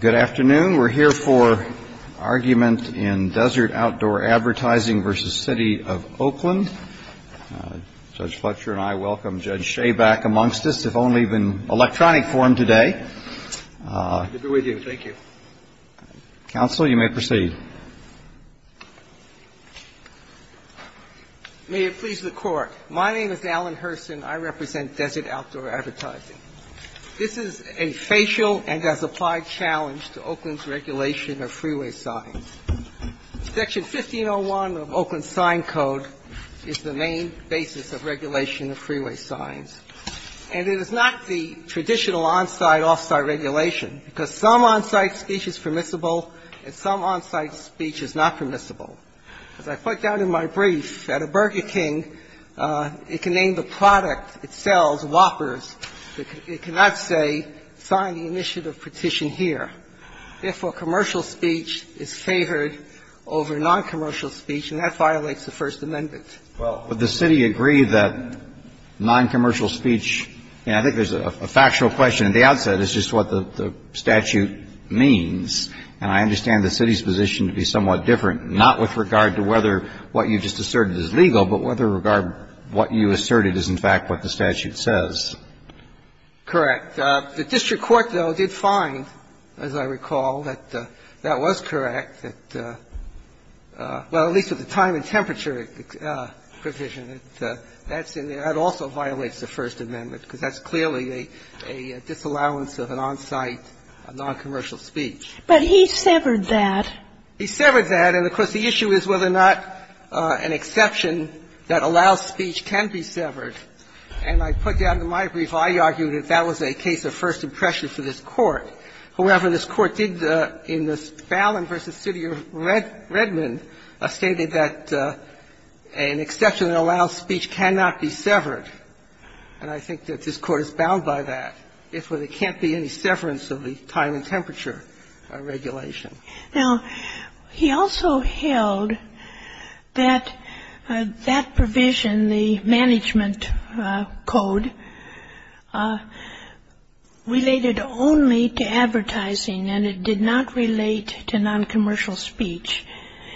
Good afternoon. We're here for argument in Desert Outdoor Advertising v. City of Oakland. Judge Fletcher and I welcome Judge Schaback amongst us, if only in electronic form today. Good to be with you. Thank you. Counsel, you may proceed. May it please the Court. My name is Alan Hurston. I represent Desert Outdoor Advertising. This is a facial and as applied challenge to Oakland's regulation of freeway signs. Section 1501 of Oakland Sign Code is the main basis of regulation of freeway signs. And it is not the traditional on-site, off-site regulation, because some on-site speech is permissible and some on-site speech is not permissible. As I put down in my brief, at a Burger King, it can name the product it sells, Whoppers. It cannot say, sign the initiative petition here. Therefore, commercial speech is favored over noncommercial speech, and that violates the First Amendment. Well, would the City agree that noncommercial speech – and I think there's a factual question at the outset, it's just what the statute means, and I understand the City's position to be somewhat different, not with regard to whether what you just asserted is legal, but whether regard what you asserted is, in fact, what the statute says. Correct. The district court, though, did find, as I recall, that that was correct, that – well, at least with the time and temperature provision, that's in the – that also violates the First Amendment, because that's clearly a disallowance of an on-site, a noncommercial speech. But he severed that. He severed that, and, of course, the issue is whether or not an exception that allows speech can be severed. And I put down in my brief, I argued that that was a case of first impression for this Court. However, this Court did, in the Fallon v. City of Redmond, stated that an exception that allows speech cannot be severed, and I think that this Court is bound by that, if there can't be any severance of the time and temperature regulation. Now, he also held that that provision, the management code, related only to advertising and it did not relate to noncommercial speech.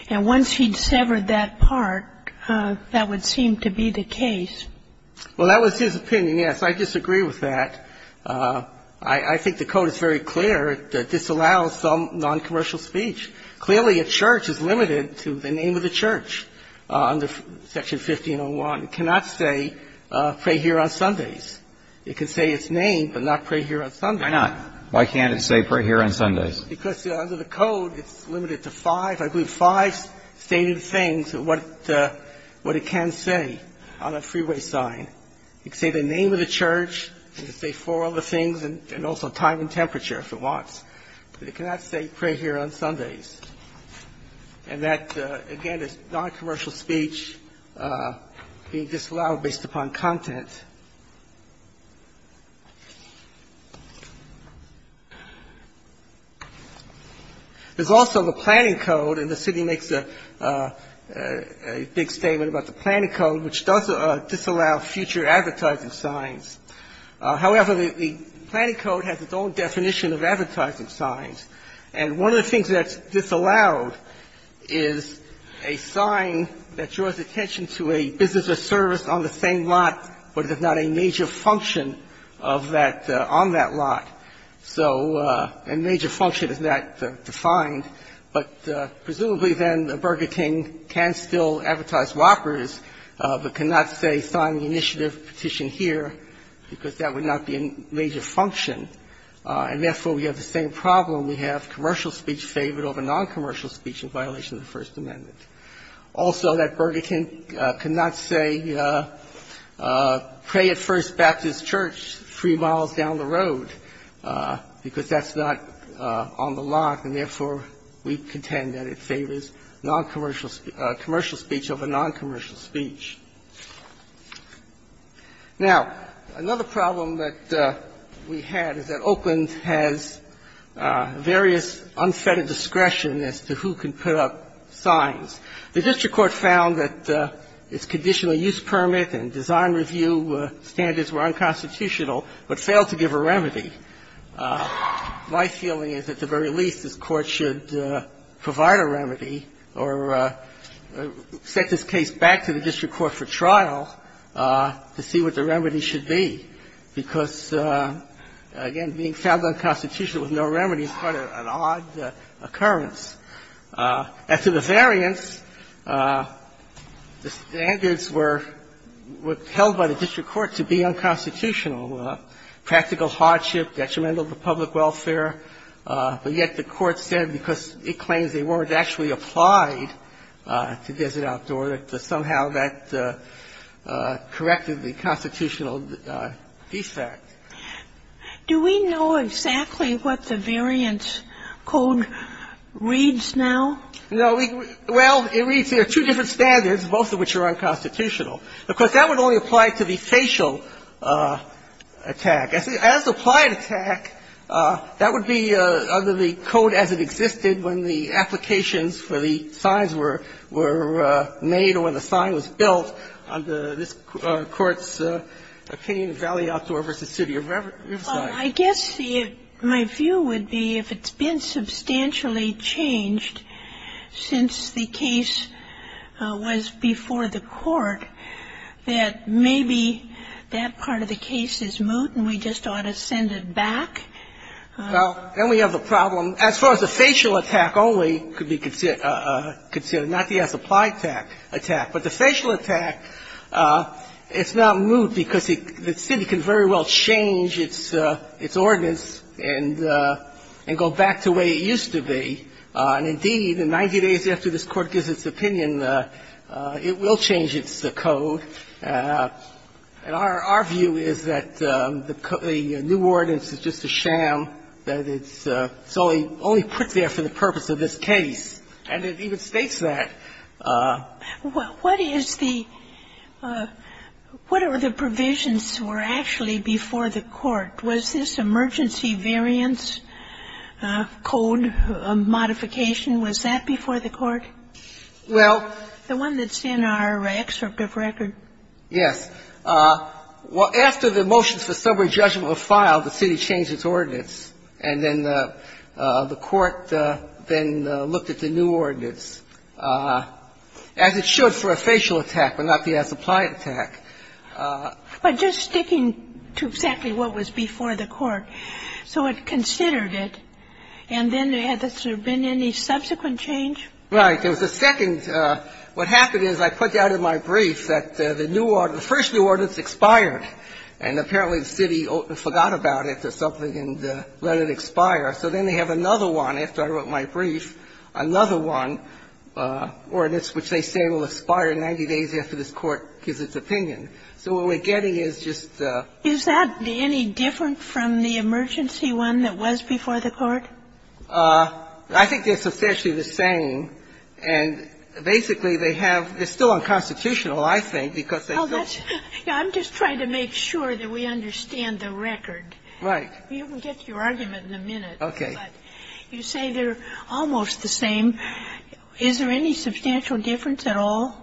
And once he'd severed that part, that would seem to be the case. Well, that was his opinion, yes. I disagree with that. I think the code is very clear that this allows some noncommercial speech. Clearly, a church is limited to the name of the church under Section 1501. It cannot say, pray here on Sundays. It can say its name, but not pray here on Sundays. Why not? Why can't it say, pray here on Sundays? Because under the code, it's limited to five, I believe, five stated things, what it can say on a freeway sign. It can say the name of the church, it can say four other things, and also time and temperature, if it wants, but it cannot say, pray here on Sundays. And that, again, is noncommercial speech being disallowed based upon content. There's also the planning code, and the city makes a big statement about the planning code, which does disallow future advertising signs. However, the planning code has its own definition of advertising signs, and one of the things that's disallowed is a sign that draws attention to a business or service on the same lot, but there's not a major function of that on that lot. So a major function is not defined, but presumably then Burger King can still advertise Whoppers, but cannot say, sign the initiative petition here, because that would not be a major function. And therefore, we have the same problem. We have commercial speech favored over noncommercial speech in violation of the First Amendment. Also, that Burger King cannot say, pray at First Baptist Church three miles down the road, because that's not on the lot, and therefore, we contend that it favors noncommercial speech over noncommercial speech. Now, another problem that we had is that Oakland has various unfettered discretion as to who can put up signs. The district court found that its conditional use permit and design review standards were unconstitutional, but failed to give a remedy. My feeling is, at the very least, this Court should provide a remedy or set this case back to the district court for trial to see what the remedy should be, because, again, being found unconstitutional with no remedy is quite an odd occurrence. As to the variance, the standards were held by the district court to be unconstitutional. They were not, you know, practical hardship, detrimental to public welfare. But yet the Court said because it claims they weren't actually applied to desert outdoor, that somehow that corrected the constitutional defect. Do we know exactly what the variance code reads now? No. Well, it reads there are two different standards, both of which are unconstitutional. And so the question is, does the district court have the ability to apply to the versus the city of Oakland versus the city of Oakland? Because that would only apply to the facial attack. As the applied attack, that would be under the code as it existed when the applications for the signs were made or when the sign was built under this Court's opinion, Valley Outdoor versus City of Riverside. Well, I guess my view would be if it's been substantially changed since the case was before the Court, that maybe that part of the case is moot and we just ought to send it back. Well, then we have the problem, as far as the facial attack only could be considered, not the as-applied attack. But the facial attack, it's not moot because the city can very well change its ordinance and go back to the way it used to be. And indeed, in 90 days after this Court gives its opinion, it will change its code. And our view is that the new ordinance is just a sham, that it's only put there for the purpose of this case. And it even states that. What is the – what are the provisions were actually before the Court? Was this emergency variance code modification, was that before the Court? Well, the one that's in our excerpt of record. Yes. After the motions for sobering judgment were filed, the city changed its ordinance. And then the Court then looked at the new ordinance, as it should for a facial attack but not the as-applied attack. But just sticking to exactly what was before the Court, so it considered it, and then has there been any subsequent change? Right. There was a second – what happened is I put down in my brief that the new – the first new ordinance expired, and apparently the city forgot about it or something and let it expire. So then they have another one, after I wrote my brief, another one, ordinance which they say will expire in 90 days after this Court gives its opinion. So what we're getting is just a – I think they're substantially the same, and basically they have – they're still unconstitutional, I think, because they still – Well, that's – I'm just trying to make sure that we understand the record. Right. You can get to your argument in a minute. Okay. But you say they're almost the same. Is there any substantial difference at all?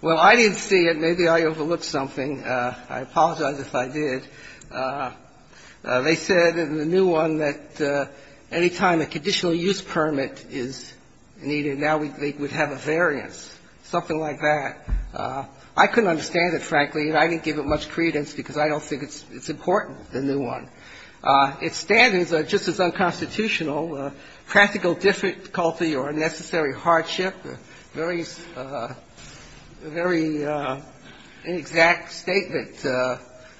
Well, I didn't see it. Maybe I overlooked something. I apologize if I did. They said in the new one that any time a conditional use permit is needed, now we would have a variance, something like that. I couldn't understand it, frankly, and I didn't give it much credence because I don't think it's important, the new one. Its standards are just as unconstitutional, practical difficulty or unnecessary hardship. Very – very inexact statement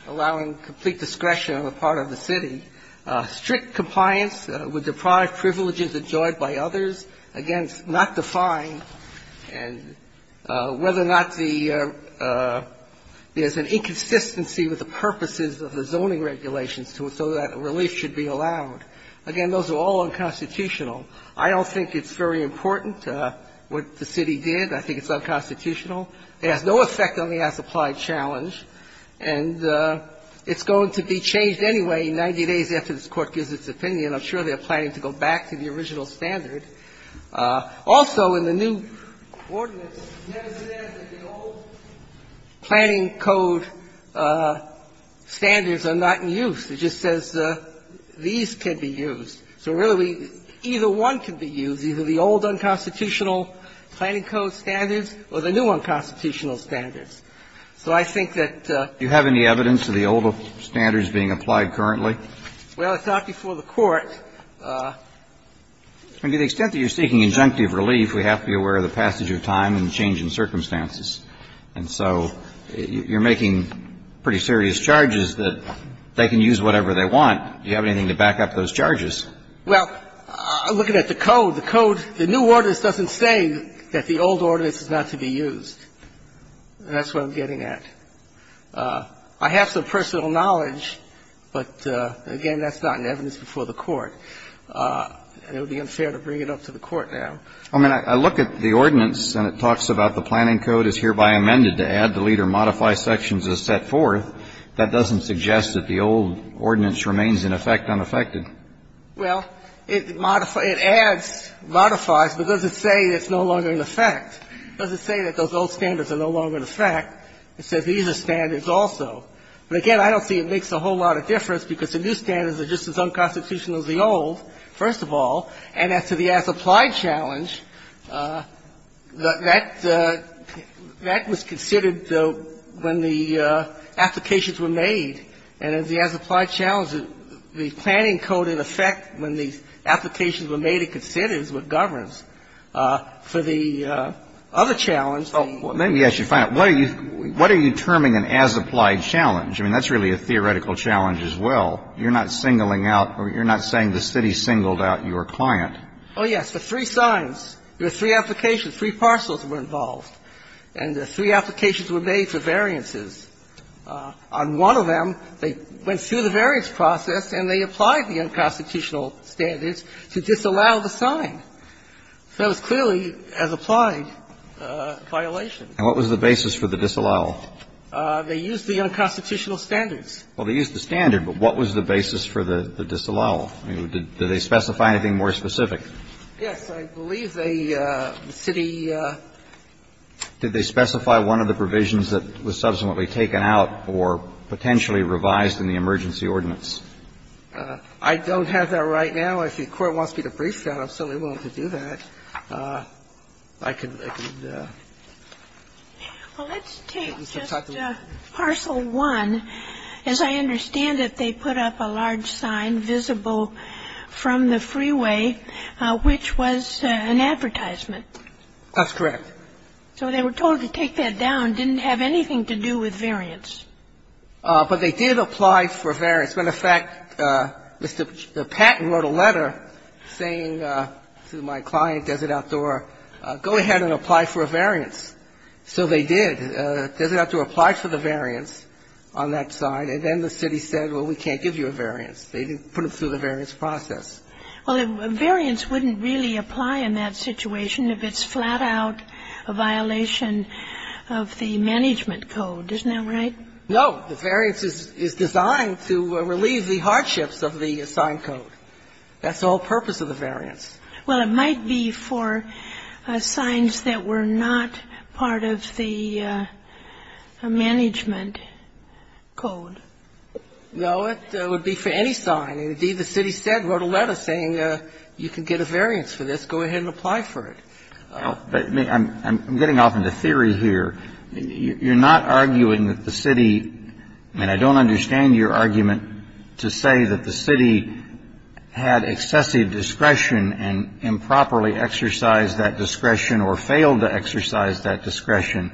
allowing complete discretion on the part of the city. Strict compliance would deprive privileges enjoyed by others against not defined and whether or not the – there's an inconsistency with the purposes of the zoning regulations so that relief should be allowed. Again, those are all unconstitutional. I don't think it's very important. What the city did, I think it's unconstitutional. It has no effect on the as-applied challenge, and it's going to be changed anyway 90 days after this Court gives its opinion. I'm sure they're planning to go back to the original standard. Also, in the new ordinance, it never says that the old planning code standards are not in use. It just says these can be used. So really, either one can be used. It's either the old unconstitutional planning code standards or the new unconstitutional standards. So I think that the – Do you have any evidence of the old standards being applied currently? Well, it's not before the Court. To the extent that you're seeking injunctive relief, we have to be aware of the passage of time and change in circumstances. And so you're making pretty serious charges that they can use whatever they want. Do you have anything to back up those charges? Well, I'm looking at the code. The code – the new ordinance doesn't say that the old ordinance is not to be used. That's what I'm getting at. I have some personal knowledge, but again, that's not in evidence before the Court. And it would be unfair to bring it up to the Court now. I mean, I look at the ordinance and it talks about the planning code is hereby amended to add, delete, or modify sections as set forth. That doesn't suggest that the old ordinance remains in effect unaffected. Well, it adds, modifies, but doesn't say it's no longer in effect. It doesn't say that those old standards are no longer in effect. It says these are standards also. But again, I don't see it makes a whole lot of difference because the new standards are just as unconstitutional as the old, first of all. And as to the as-applied challenge, that was considered when the applications were made. And in the as-applied challenge, the planning code, in effect, when the applications were made, it considered it as what governs. For the other challenge – Well, let me ask you a final – what are you – what are you terming an as-applied challenge? I mean, that's really a theoretical challenge as well. You're not singling out – you're not saying the city singled out your client. Oh, yes. The three signs. There were three applications. Three parcels were involved. And the three applications were made for variances. On one of them, they went through the variance process and they applied the unconstitutional standards to disallow the sign. So it was clearly an as-applied violation. And what was the basis for the disallowal? They used the unconstitutional standards. Well, they used the standard, but what was the basis for the disallowal? I mean, did they specify anything more specific? Yes. I believe the city – Did they specify one of the provisions that was subsequently taken out or potentially revised in the emergency ordinance? I don't have that right now. If the Court wants me to brief you on it, I'm certainly willing to do that. I could – I could – Well, let's take just parcel one. As I understand it, they put up a large sign visible from the freeway, which was an advertisement. That's correct. So they were told to take that down. It didn't have anything to do with variance. But they did apply for variance. As a matter of fact, Mr. Patton wrote a letter saying to my client, Desert Outdoor, go ahead and apply for a variance. So they did. Desert Outdoor applied for the variance on that side, and then the city said, well, we can't give you a variance. They didn't put it through the variance process. Well, the variance wouldn't really apply in that situation if it's flat out a violation of the management code. Isn't that right? No. The variance is designed to relieve the hardships of the sign code. That's the whole purpose of the variance. Well, it might be for signs that were not part of the management code. No, it would be for any sign. Indeed, the city said, wrote a letter saying you can get a variance for this. Go ahead and apply for it. But I'm getting off into theory here. You're not arguing that the city, and I don't understand your argument to say that the city had excessive discretion and improperly exercised that discretion or failed to exercise that discretion.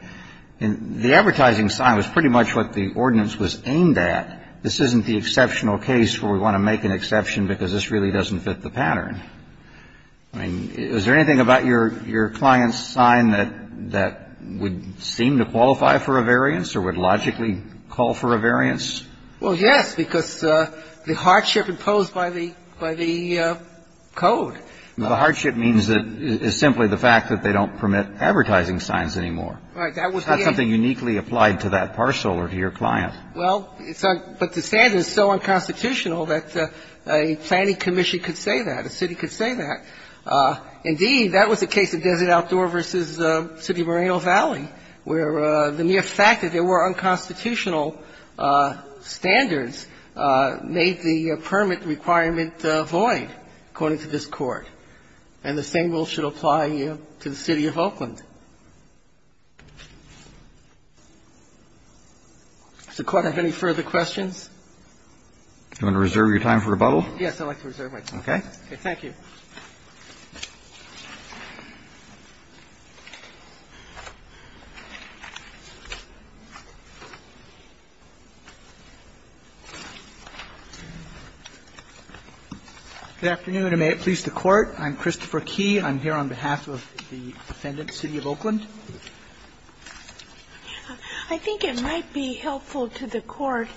The advertising sign was pretty much what the ordinance was aimed at. This isn't the exceptional case where we want to make an exception because this really doesn't fit the pattern. I mean, is there anything about your client's sign that would seem to qualify for a variance or would logically call for a variance? Well, yes, because the hardship imposed by the code. The hardship means that it's simply the fact that they don't permit advertising signs anymore. Right. That's something uniquely applied to that parcel or to your client. Well, but the standard is so unconstitutional that a planning commission could say that, a city could say that. Indeed, that was the case of Desert Outdoor v. City of Moreno Valley, where the mere fact that there were unconstitutional standards made the permit requirement void, according to this Court. And the same rule should apply to the City of Oakland. Does the Court have any further questions? Do you want to reserve your time for rebuttal? Yes, I'd like to reserve my time. Okay. Thank you. Good afternoon, and may it please the Court. I'm Christopher Key. I'm here on behalf of the defendant, City of Oakland. I think it might be helpful to the Court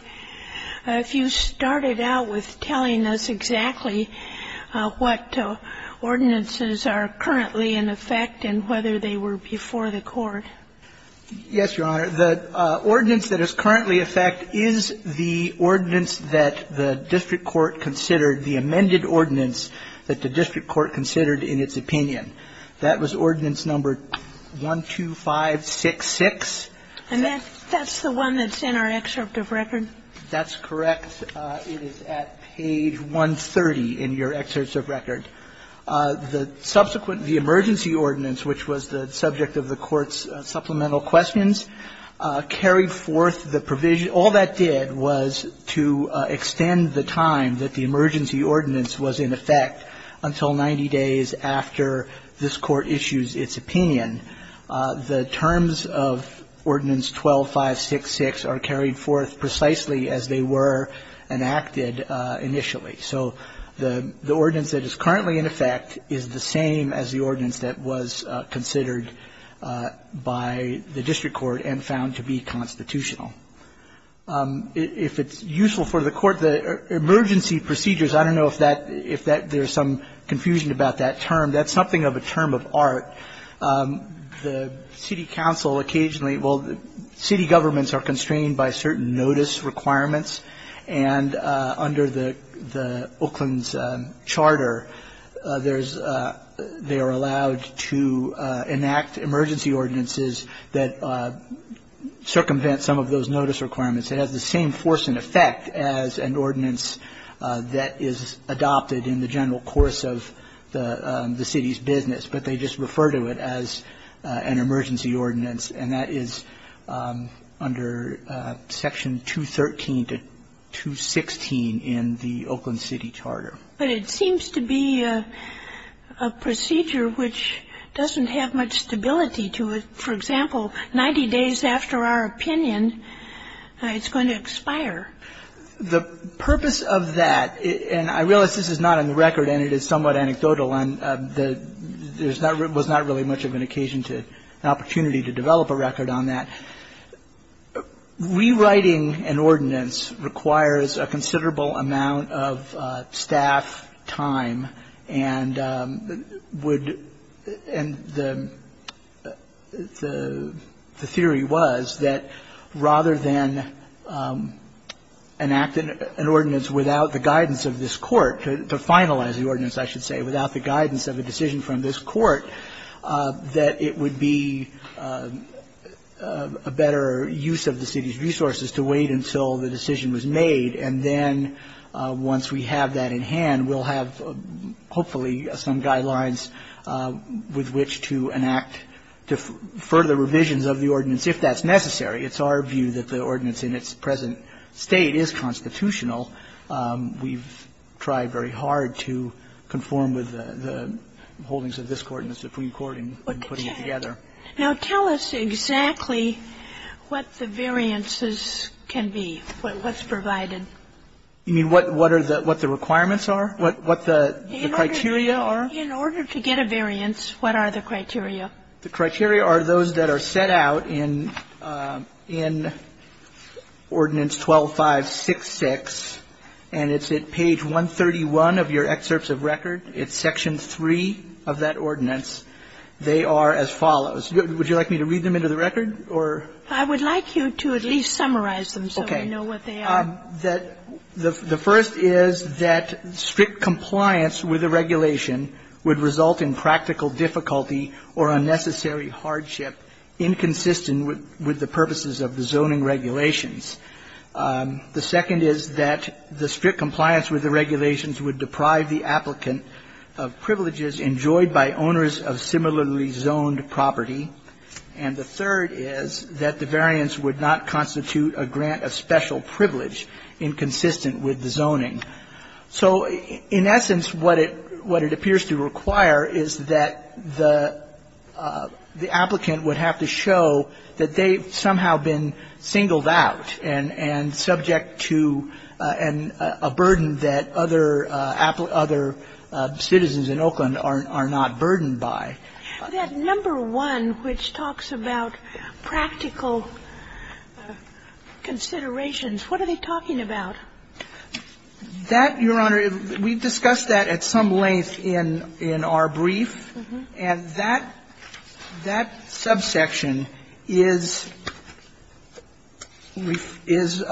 if you started out with telling us exactly what ordinances are currently in effect and whether they were before the Court. Yes, Your Honor. The ordinance that is currently in effect is the ordinance that the district court considered, the amended ordinance that the district court considered in its opinion. That was ordinance number 12566. And that's the one that's in our excerpt of record? That's correct. It is at page 130 in your excerpt of record. The subsequent emergency ordinance, which was the subject of the Court's supplemental questions, carried forth the provision. All that did was to extend the time that the emergency ordinance was in effect until 90 days after this Court issues its opinion. The terms of ordinance 12566 are carried forth precisely as they were enacted initially. So the ordinance that is currently in effect is the same as the ordinance that was considered by the district court and found to be constitutional. If it's useful for the Court, the emergency procedures, I don't know if there's some confusion about that term. That's something of a term of art. The city council occasionally, well, city governments are constrained by certain notice requirements, and under the Oakland's charter, they are allowed to enact emergency ordinances that circumvent some of those notice requirements. It has the same force and effect as an ordinance that is adopted in the general course of the city's business, but they just refer to it as an emergency ordinance. And that is under section 213 to 216 in the Oakland City Charter. But it seems to be a procedure which doesn't have much stability to it. For example, 90 days after our opinion, it's going to expire. The purpose of that, and I realize this is not on the record and it is somewhat anecdotal, and there was not really much of an occasion to, an opportunity to develop a record on that. Rewriting an ordinance requires a considerable amount of staff time and would, and the theory was that rather than enacting an ordinance without the guidance of this Court, to finalize the ordinance, I should say, without the guidance of a decision from this Court, that it would be a better use of the city's resources to wait until the decision was made, and then once we have that in hand, we'll have hopefully some guidelines with which to enact further revisions of the ordinance if that's necessary. It's our view that the ordinance in its present state is constitutional. We've tried very hard to conform with the holdings of this Court and the Supreme Court in putting it together. Now, tell us exactly what the variances can be, what's provided. You mean what are the requirements are, what the criteria are? In order to get a variance, what are the criteria? The criteria are those that are set out in Ordinance 12-566, and it's at page 131 of your excerpts of record. It's section 3 of that ordinance. They are as follows. Would you like me to read them into the record, or? I would like you to at least summarize them so we know what they are. Okay. The first is that strict compliance with the regulation would result in practical difficulty or unnecessary hardship inconsistent with the purposes of the zoning regulations. The second is that the strict compliance with the regulations would deprive the applicant of privileges enjoyed by owners of similarly zoned property. And the third is that the variance would not constitute a grant of special privilege inconsistent with the zoning. So in essence, what it appears to require is that the applicant would have to show that they've somehow been singled out and subject to a burden that other citizens in Oakland are not burdened by. That number one, which talks about practical considerations, what are they talking about? That, Your Honor, we've discussed that at some length in our brief, and that subsection is we've – is –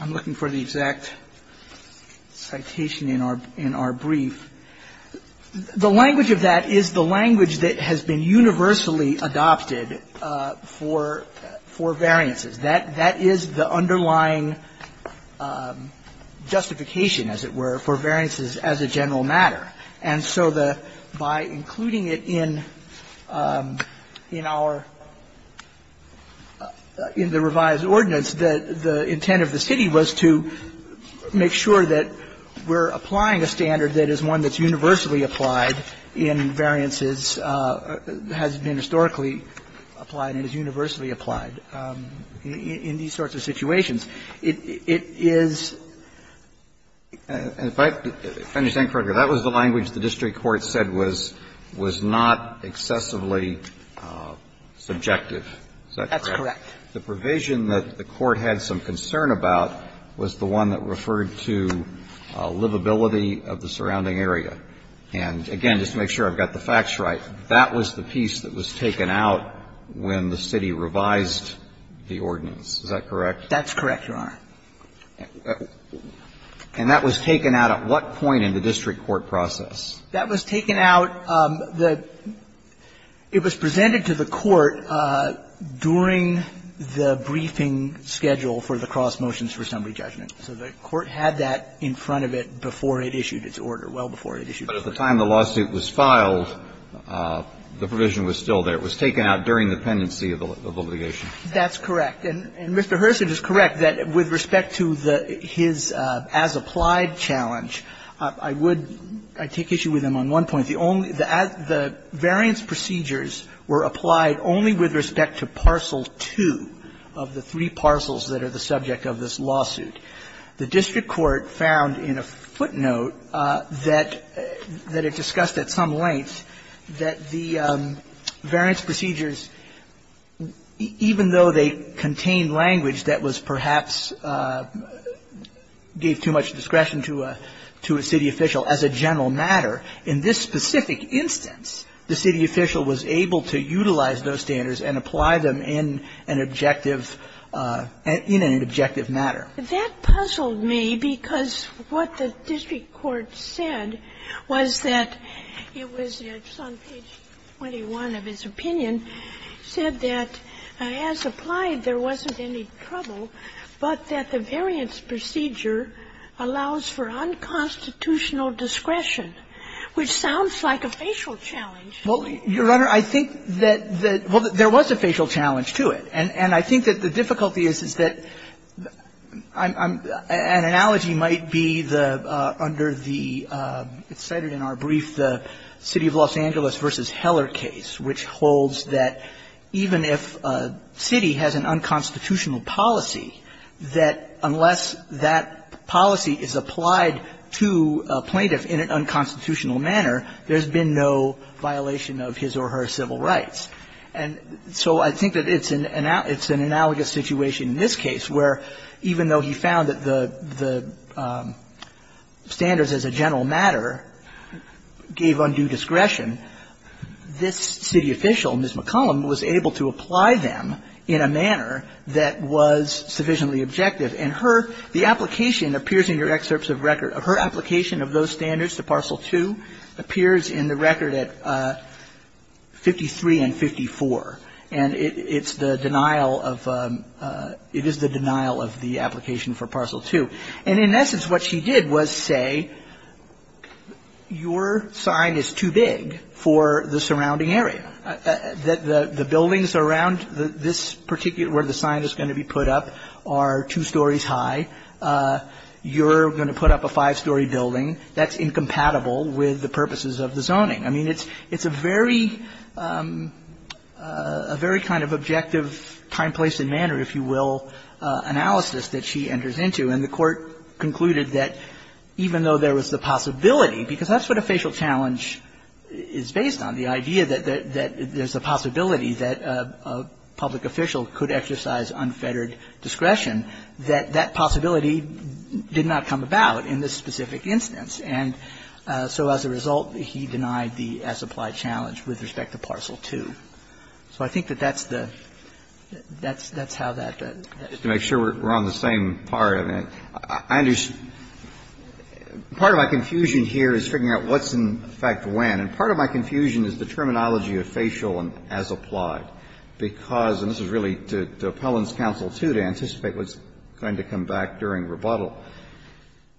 I'm looking for the exact citation in our brief. The language of that is the language that has been universally adopted for variances. That is the underlying justification, as it were, for variances as a general matter. And so the – by including it in our – in the revised ordinance, the intent of the city was to make sure that we're applying a standard that is one that's universally applied in variances – has been historically applied and is universally applied. And in these sorts of situations, it is – If I understand correctly, that was the language the district court said was not excessively subjective. Is that correct? That's correct. The provision that the court had some concern about was the one that referred to livability of the surrounding area. And again, just to make sure I've got the facts right, that was the piece that was referred to the district court in the revised ordinance. Is that correct? That's correct, Your Honor. And that was taken out at what point in the district court process? That was taken out the – it was presented to the court during the briefing schedule for the cross motions for summary judgment. So the court had that in front of it before it issued its order, well before it issued its order. But at the time the lawsuit was filed, the provision was still there. It was taken out during the pendency of the litigation. That's correct. And Mr. Herseth is correct that with respect to the – his as-applied challenge, I would – I take issue with him on one point. The only – the variance procedures were applied only with respect to parcel 2 of the three parcels that are the subject of this lawsuit. The district court found in a footnote that it discussed at some length that the variance procedures, even though they contained language that was perhaps – gave too much discretion to a city official as a general matter, in this specific instance, the city official was able to utilize those standards and apply them in an objective – in an objective matter. That puzzled me because what the district court said was that it was on page 21 of his opinion, said that as applied there wasn't any trouble, but that the variance procedure allows for unconstitutional discretion, which sounds like a facial challenge. Well, Your Honor, I think that the – well, there was a facial challenge to it. And I think that the difficulty is, is that an analogy might be the – under the – it's cited in our brief, the City of Los Angeles v. Heller case, which holds that even if a city has an unconstitutional policy, that unless that policy is applied to a plaintiff in an unconstitutional manner, there's been no violation of his or her civil rights. And so I think that it's an – it's an analogous situation in this case, where even though he found that the standards as a general matter gave undue discretion, this city official, Ms. McCollum, was able to apply them in a manner that was sufficiently objective. And her – the application appears in your excerpts of record – her application of those standards, the Parcel 2, appears in the record at 53 and 54. And it's the denial of – it is the denial of the application for Parcel 2. And in essence, what she did was say, your sign is too big for the surrounding area. The buildings around this particular – where the sign is going to be put up are two stories high. You're going to put up a five-story building that's incompatible with the purposes of the zoning. I mean, it's a very – a very kind of objective time, place and manner, if you will, analysis that she enters into. And the Court concluded that even though there was the possibility, because that's what a facial challenge is based on, the idea that there's a possibility that a public official could exercise unfettered discretion, that that possibility did not come about in this specific instance. And so as a result, he denied the as-applied challenge with respect to Parcel 2. So I think that that's the – that's how that – that is. Kennedy, to make sure we're on the same part of it, I understand – part of my confusion here is figuring out what's in effect when. And part of my confusion is the terminology of facial and as-applied, because – and this is really to appellant's counsel, too, to anticipate what's going to come back during rebuttal.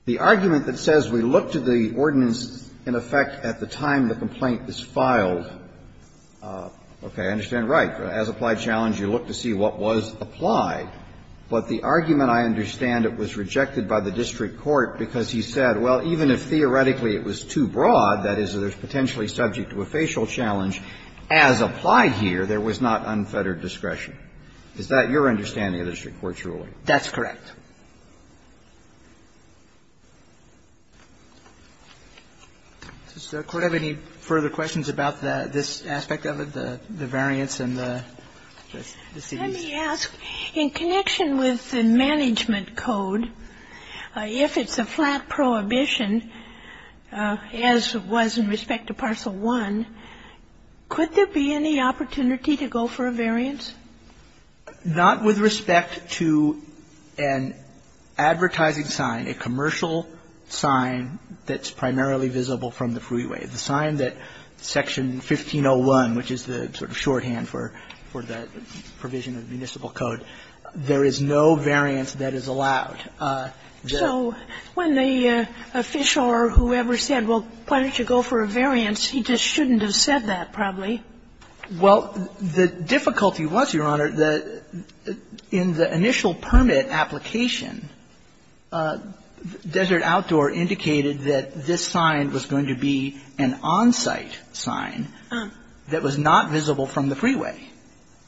The argument that says we look to the ordinance in effect at the time the complaint is filed, okay, I understand, right. As-applied challenge, you look to see what was applied. But the argument, I understand, it was rejected by the district court because he said, well, even if theoretically it was too broad, that is, it was potentially subject to a facial challenge, as applied here, there was not unfettered discretion. Is that your understanding of the district court's ruling? That's correct. Does the Court have any further questions about this aspect of it, the variance and the C.D.C.? Let me ask, in connection with the management code, if it's a flat prohibition, as it was in respect to Parcel I, could there be any opportunity to go for a variance? Not with respect to an advertising sign, a commercial sign that's primarily visible from the freeway, the sign that Section 1501, which is the sort of shorthand for the provision of municipal code, there is no variance that is allowed. So when the official or whoever said, well, why don't you go for a variance, he just shouldn't have said that, probably. Well, the difficulty was, Your Honor, that in the initial permit application, Desert Outdoor indicated that this sign was going to be an on-site sign that was not visible from the freeway.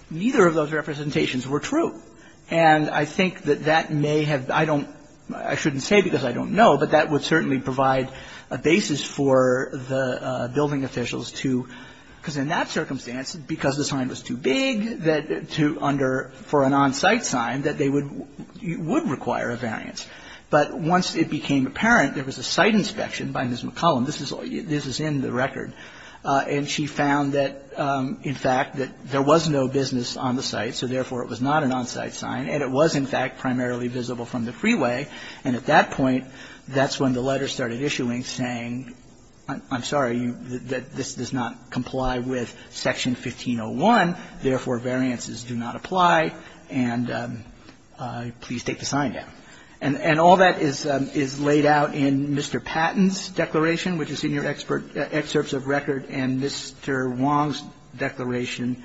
Neither of those representations were true. And I think that that may have been the case. I don't know, I shouldn't say because I don't know, but that would certainly provide a basis for the building officials to, because in that circumstance, because the sign was too big for an on-site sign, that they would require a variance. But once it became apparent there was a site inspection by Ms. McCollum, this is in the record, and she found that, in fact, that there was no business on the site, so therefore it was not an on-site sign, and it was, in fact, primarily visible from the freeway. And at that point, that's when the letters started issuing, saying, I'm sorry, this does not comply with Section 1501, therefore variances do not apply, and please take the sign down. And all that is laid out in Mr. Patton's declaration, which is in your excerpts of record, and Mr. Wong's declaration.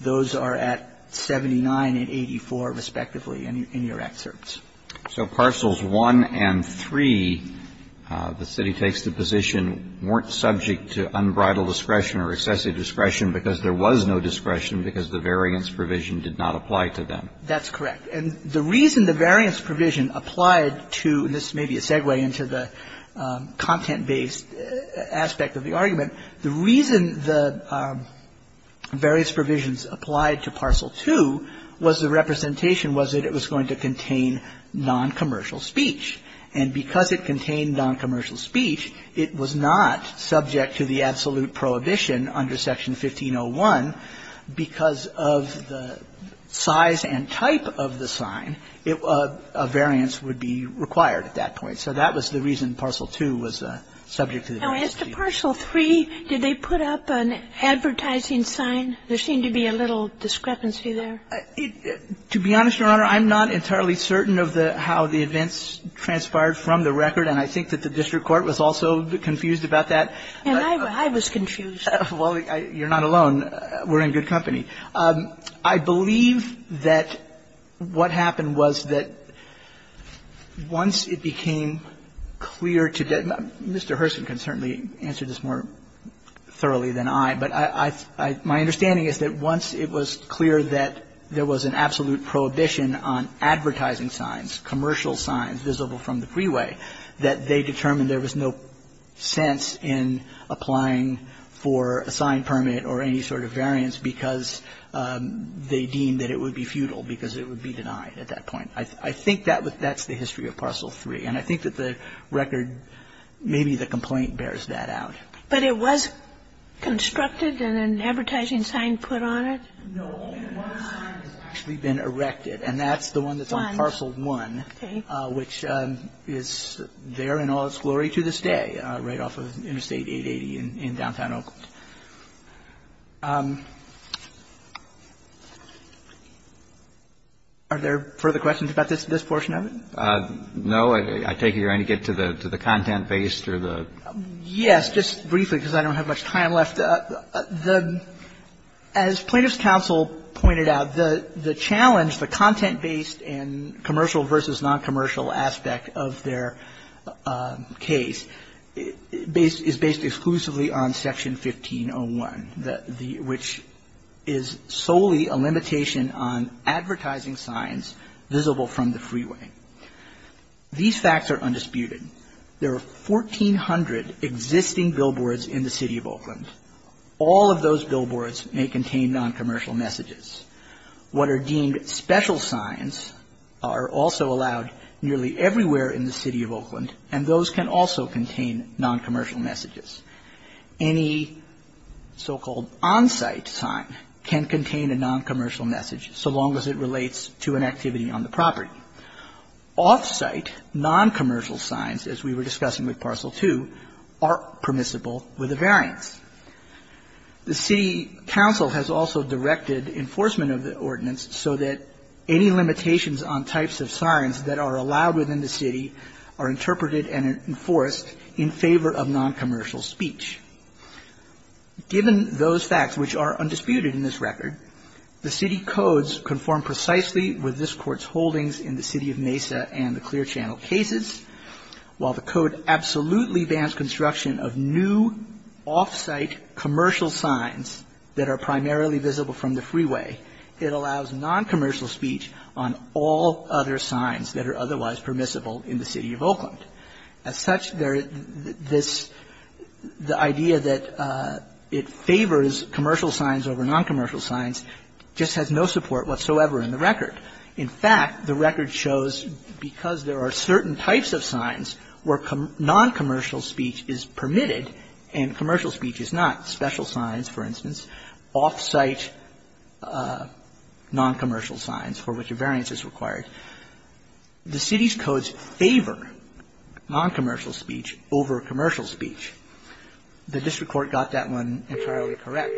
Those are at 79 and 84, respectively, in your excerpts. So parcels 1 and 3, the city takes the position, weren't subject to unbridled discretion or excessive discretion because there was no discretion because the variance provision did not apply to them. That's correct. And the reason the variance provision applied to, and this may be a segue into the content-based aspect of the argument, the reason the variance provisions applied to parcel 2 was the representation was that it was going to contain non-commercial speech. And because it contained non-commercial speech, it was not subject to the absolute prohibition under Section 1501 because of the size and type of the sign, a variance would be required at that point. So that was the reason parcel 2 was subject to the variance provision. Now, as to parcel 3, did they put up an advertising sign? There seemed to be a little discrepancy there. To be honest, Your Honor, I'm not entirely certain of the how the events transpired from the record, and I think that the district court was also confused about that. And I was confused. Well, you're not alone. We're in good company. I believe that what happened was that once it became clear to Mr. Herson can certainly answer this more thoroughly than I, but my understanding is that once it was clear that there was an absolute prohibition on advertising signs, commercial signs visible from the freeway, that they determined there was no sense in applying for a sign permit or any sort of variance because they deemed that it would be futile because it would be denied at that point. I think that's the history of parcel 3. And I think that the record, maybe the complaint bears that out. But it was constructed and an advertising sign put on it? No. And one sign has actually been erected, and that's the one that's on parcel 1, which is there in all its glory to this day, right off of Interstate 880 in downtown Oakland. Are there further questions about this portion of it? No. I take it you're going to get to the content-based or the other? Yes, just briefly, because I don't have much time left. As Plaintiff's counsel pointed out, the challenge, the content-based and commercial versus noncommercial aspect of their case is based exclusively on Section 1501, which is solely a limitation on advertising signs visible from the freeway. These facts are undisputed. There are 1,400 existing billboards in the City of Oakland. All of those billboards may contain noncommercial messages. What are deemed special signs are also allowed nearly everywhere in the City of Oakland, and those can also contain noncommercial messages. Any so-called on-site sign can contain a noncommercial message, so long as it relates to an activity on the property. Off-site, noncommercial signs, as we were discussing with Parcel 2, are permissible with a variance. The City Council has also directed enforcement of the ordinance so that any limitations on types of signs that are allowed within the City are interpreted and enforced in favor of noncommercial speech. Given those facts, which are undisputed in this record, the City codes conform precisely with this Court's holdings in the City of Mesa and the Clear Channel cases. While the Code absolutely bans construction of new off-site commercial signs that are primarily visible from the freeway, it allows noncommercial speech on all other signs that are otherwise permissible in the City of Oakland. As such, this idea that it favors commercial signs over noncommercial signs just has no support whatsoever in the record. In fact, the record shows because there are certain types of signs where noncommercial speech is permitted and commercial speech is not, special signs, for instance, off-site noncommercial signs for which a variance is required, the City's codes favor noncommercial speech over commercial speech. The district court got that one entirely correct.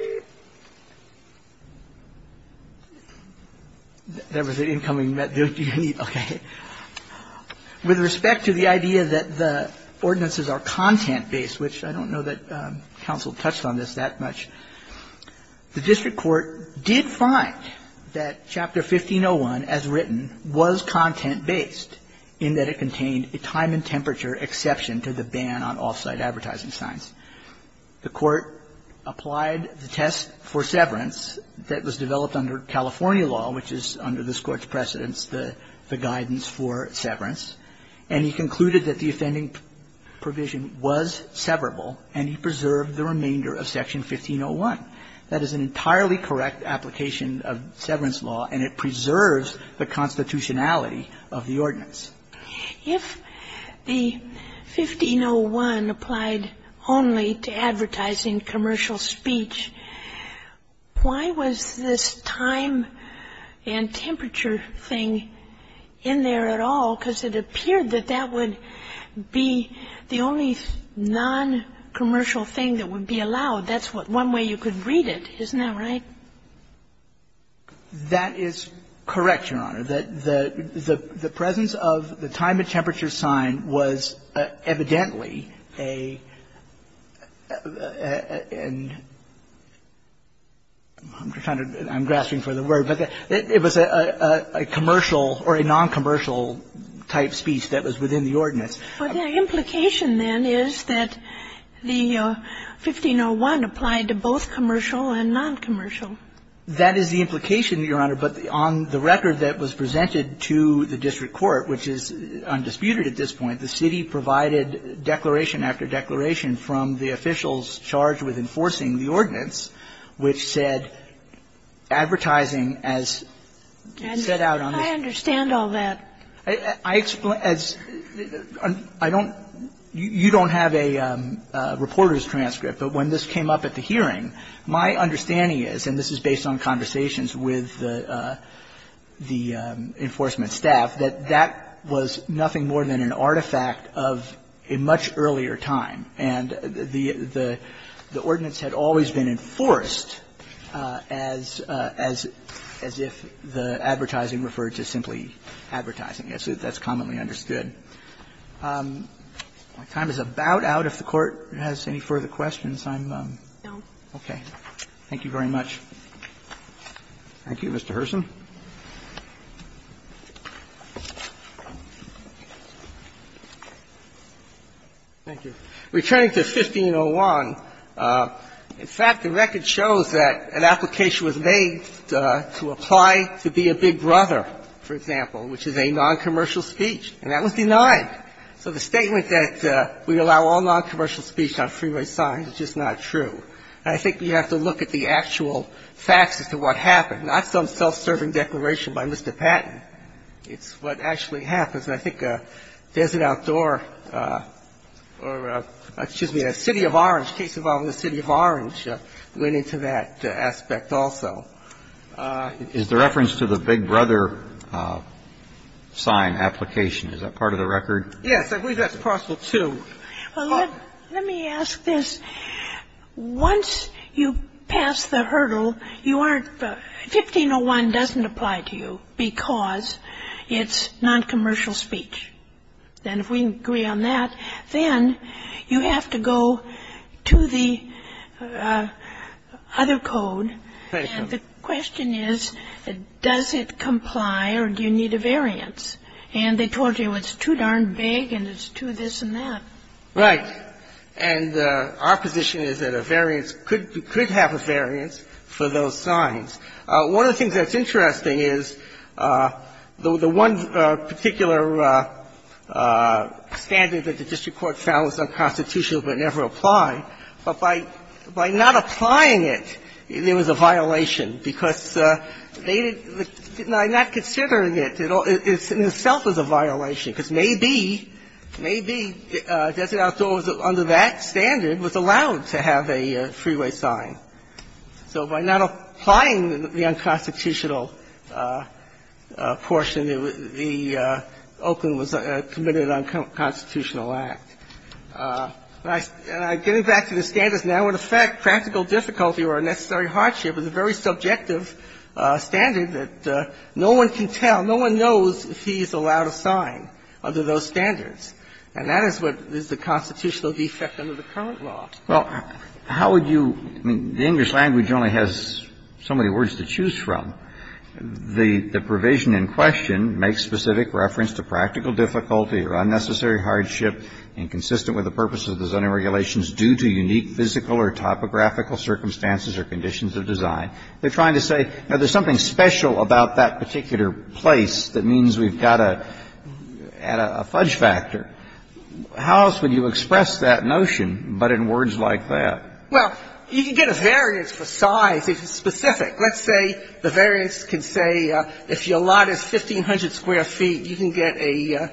With respect to the idea that the ordinances are content-based, which I don't know that counsel touched on this that much, the district court did find that Chapter 1501, as written, was content-based in that it contained a time and temperature exception to the ban on off-site advertising signs. The court applied the test for severance that was developed under California law, which is under this Court's precedence, the guidance for severance, and he concluded that the offending provision was severable and he preserved the remainder of Section 1501. That is an entirely correct application of severance law, and it preserves the constitutionality of the ordinance. If the 1501 applied only to advertising commercial speech, why was this time and temperature thing in there at all, because it appeared that that would be the only noncommercial thing that would be allowed, that's one way you could read it, isn't that right? That is correct, Your Honor. That the presence of the time and temperature sign was evidently a, and I'm grasping for the word, but it was a commercial or a noncommercial type speech that was within the ordinance. But the implication, then, is that the 1501 applied to both commercial and noncommercial. That is the implication, Your Honor, but on the record that was presented to the district court, which is undisputed at this point, the city provided declaration after declaration from the officials charged with enforcing the ordinance, which said advertising as set out on this. And I understand all that. I explain, as I don't, you don't have a reporter's transcript, but when this came up at the hearing, my understanding is, and this is based on conversations with the enforcement staff, that that was nothing more than an artifact of a much earlier time, and the ordinance had always been enforced as if the advertising referred to simply advertising, as that's commonly understood. And my time is about out. If the Court has any further questions, I'm going to go. Okay. Thank you very much. Thank you, Mr. Herson. Thank you. Returning to 1501, in fact, the record shows that an application was made to apply to be a big brother, for example, which is a noncommercial speech. And that was denied. So the statement that we allow all noncommercial speech on freeway signs is just not true. And I think we have to look at the actual facts as to what happened, not some self-serving declaration by Mr. Patton. It's what actually happens. And I think Desert Outdoor or the City of Orange, a case involving the City of Orange, went into that aspect also. Is the reference to the big brother sign application, is that part of the record? Yes, I believe that's possible, too. Well, let me ask this. Once you pass the hurdle, you aren't 1501 doesn't apply to you because it's noncommercial speech. And if we agree on that, then you have to go to the other code. And the question is, does it comply or do you need a variance? And they told you it's too darn big and it's too this and that. Right. And our position is that a variance could have a variance for those signs. One of the things that's interesting is the one particular standard that the district court found was unconstitutional but never applied, but by not applying it, there was a violation because they did not consider it in itself as a violation. Because maybe Desert Outdoor under that standard was allowed to have a freeway sign. So by not applying the unconstitutional portion, the Oakland was committed to an unconstitutional act. Getting back to the standards, now, in effect, practical difficulty or unnecessary hardship is a very subjective standard that no one can tell, no one knows if he's allowed a sign under those standards. And that is what is the constitutional defect under the current law. Well, how would you – I mean, the English language only has so many words to choose from. The provision in question makes specific reference to practical difficulty or unnecessary hardship inconsistent with the purpose of the zoning regulations due to unique physical or topographical circumstances or conditions of design. They're trying to say, you know, there's something special about that particular place that means we've got to add a fudge factor. How else would you express that notion but in words like that? Well, you can get a variance for size if it's specific. Let's say the variance can say if your lot is 1,500 square feet, you can get a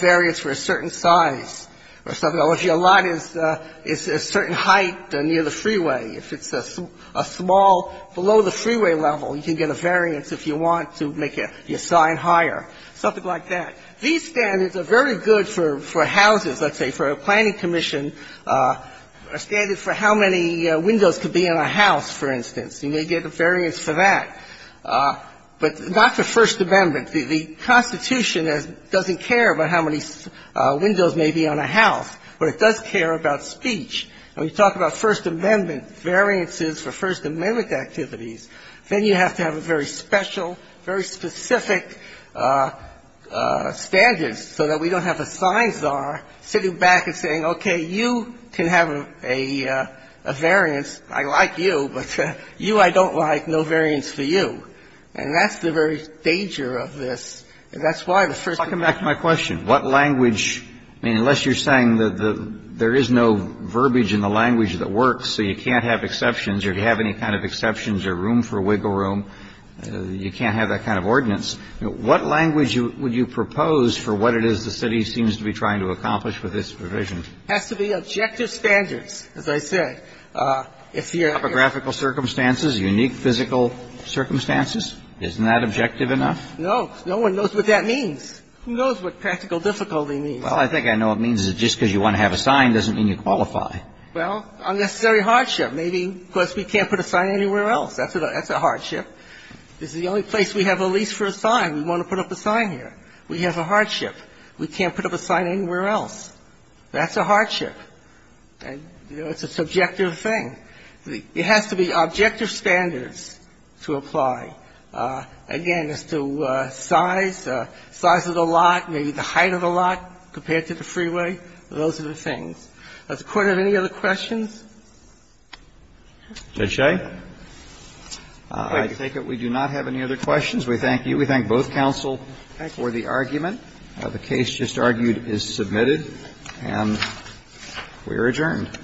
variance for a certain size or something. Or if your lot is a certain height near the freeway, if it's a small below the freeway level, you can get a variance if you want to make your sign higher, something like that. These standards are very good for houses, let's say, for a planning commission, a standard for how many windows could be in a house, for instance. You may get a variance for that. But not the First Amendment. The Constitution doesn't care about how many windows may be on a house, but it does care about speech. When you talk about First Amendment variances for First Amendment activities, then you have to have a very special, very specific standards so that we don't have a sign czar sitting back and saying, okay, you can have a variance. I like you, but you I don't like, no variance for you. And that's the very danger of this. And that's why the First Amendment ---- Kennedy, I mean, unless you're saying that there is no verbiage in the language that works, so you can't have exceptions, or if you have any kind of exceptions, or room for wiggle room, you can't have that kind of ordinance, what language would you propose for what it is the city seems to be trying to accomplish with this provision? Has to be objective standards, as I said. If you're ---- Topographical circumstances, unique physical circumstances, isn't that objective enough? No. No one knows what that means. Who knows what practical difficulty means? Well, I think I know what it means is just because you want to have a sign doesn't mean you qualify. Well, unnecessary hardship. Maybe because we can't put a sign anywhere else. That's a hardship. This is the only place we have a lease for a sign. We want to put up a sign here. We have a hardship. We can't put up a sign anywhere else. That's a hardship. It's a subjective thing. It has to be objective standards to apply. Again, as to size, size of the lot, maybe the height of the lot compared to the freeway, those are the things. Does the Court have any other questions? Judge Shea? I take it we do not have any other questions. We thank you. We thank both counsel for the argument. The case just argued is submitted. And we are adjourned.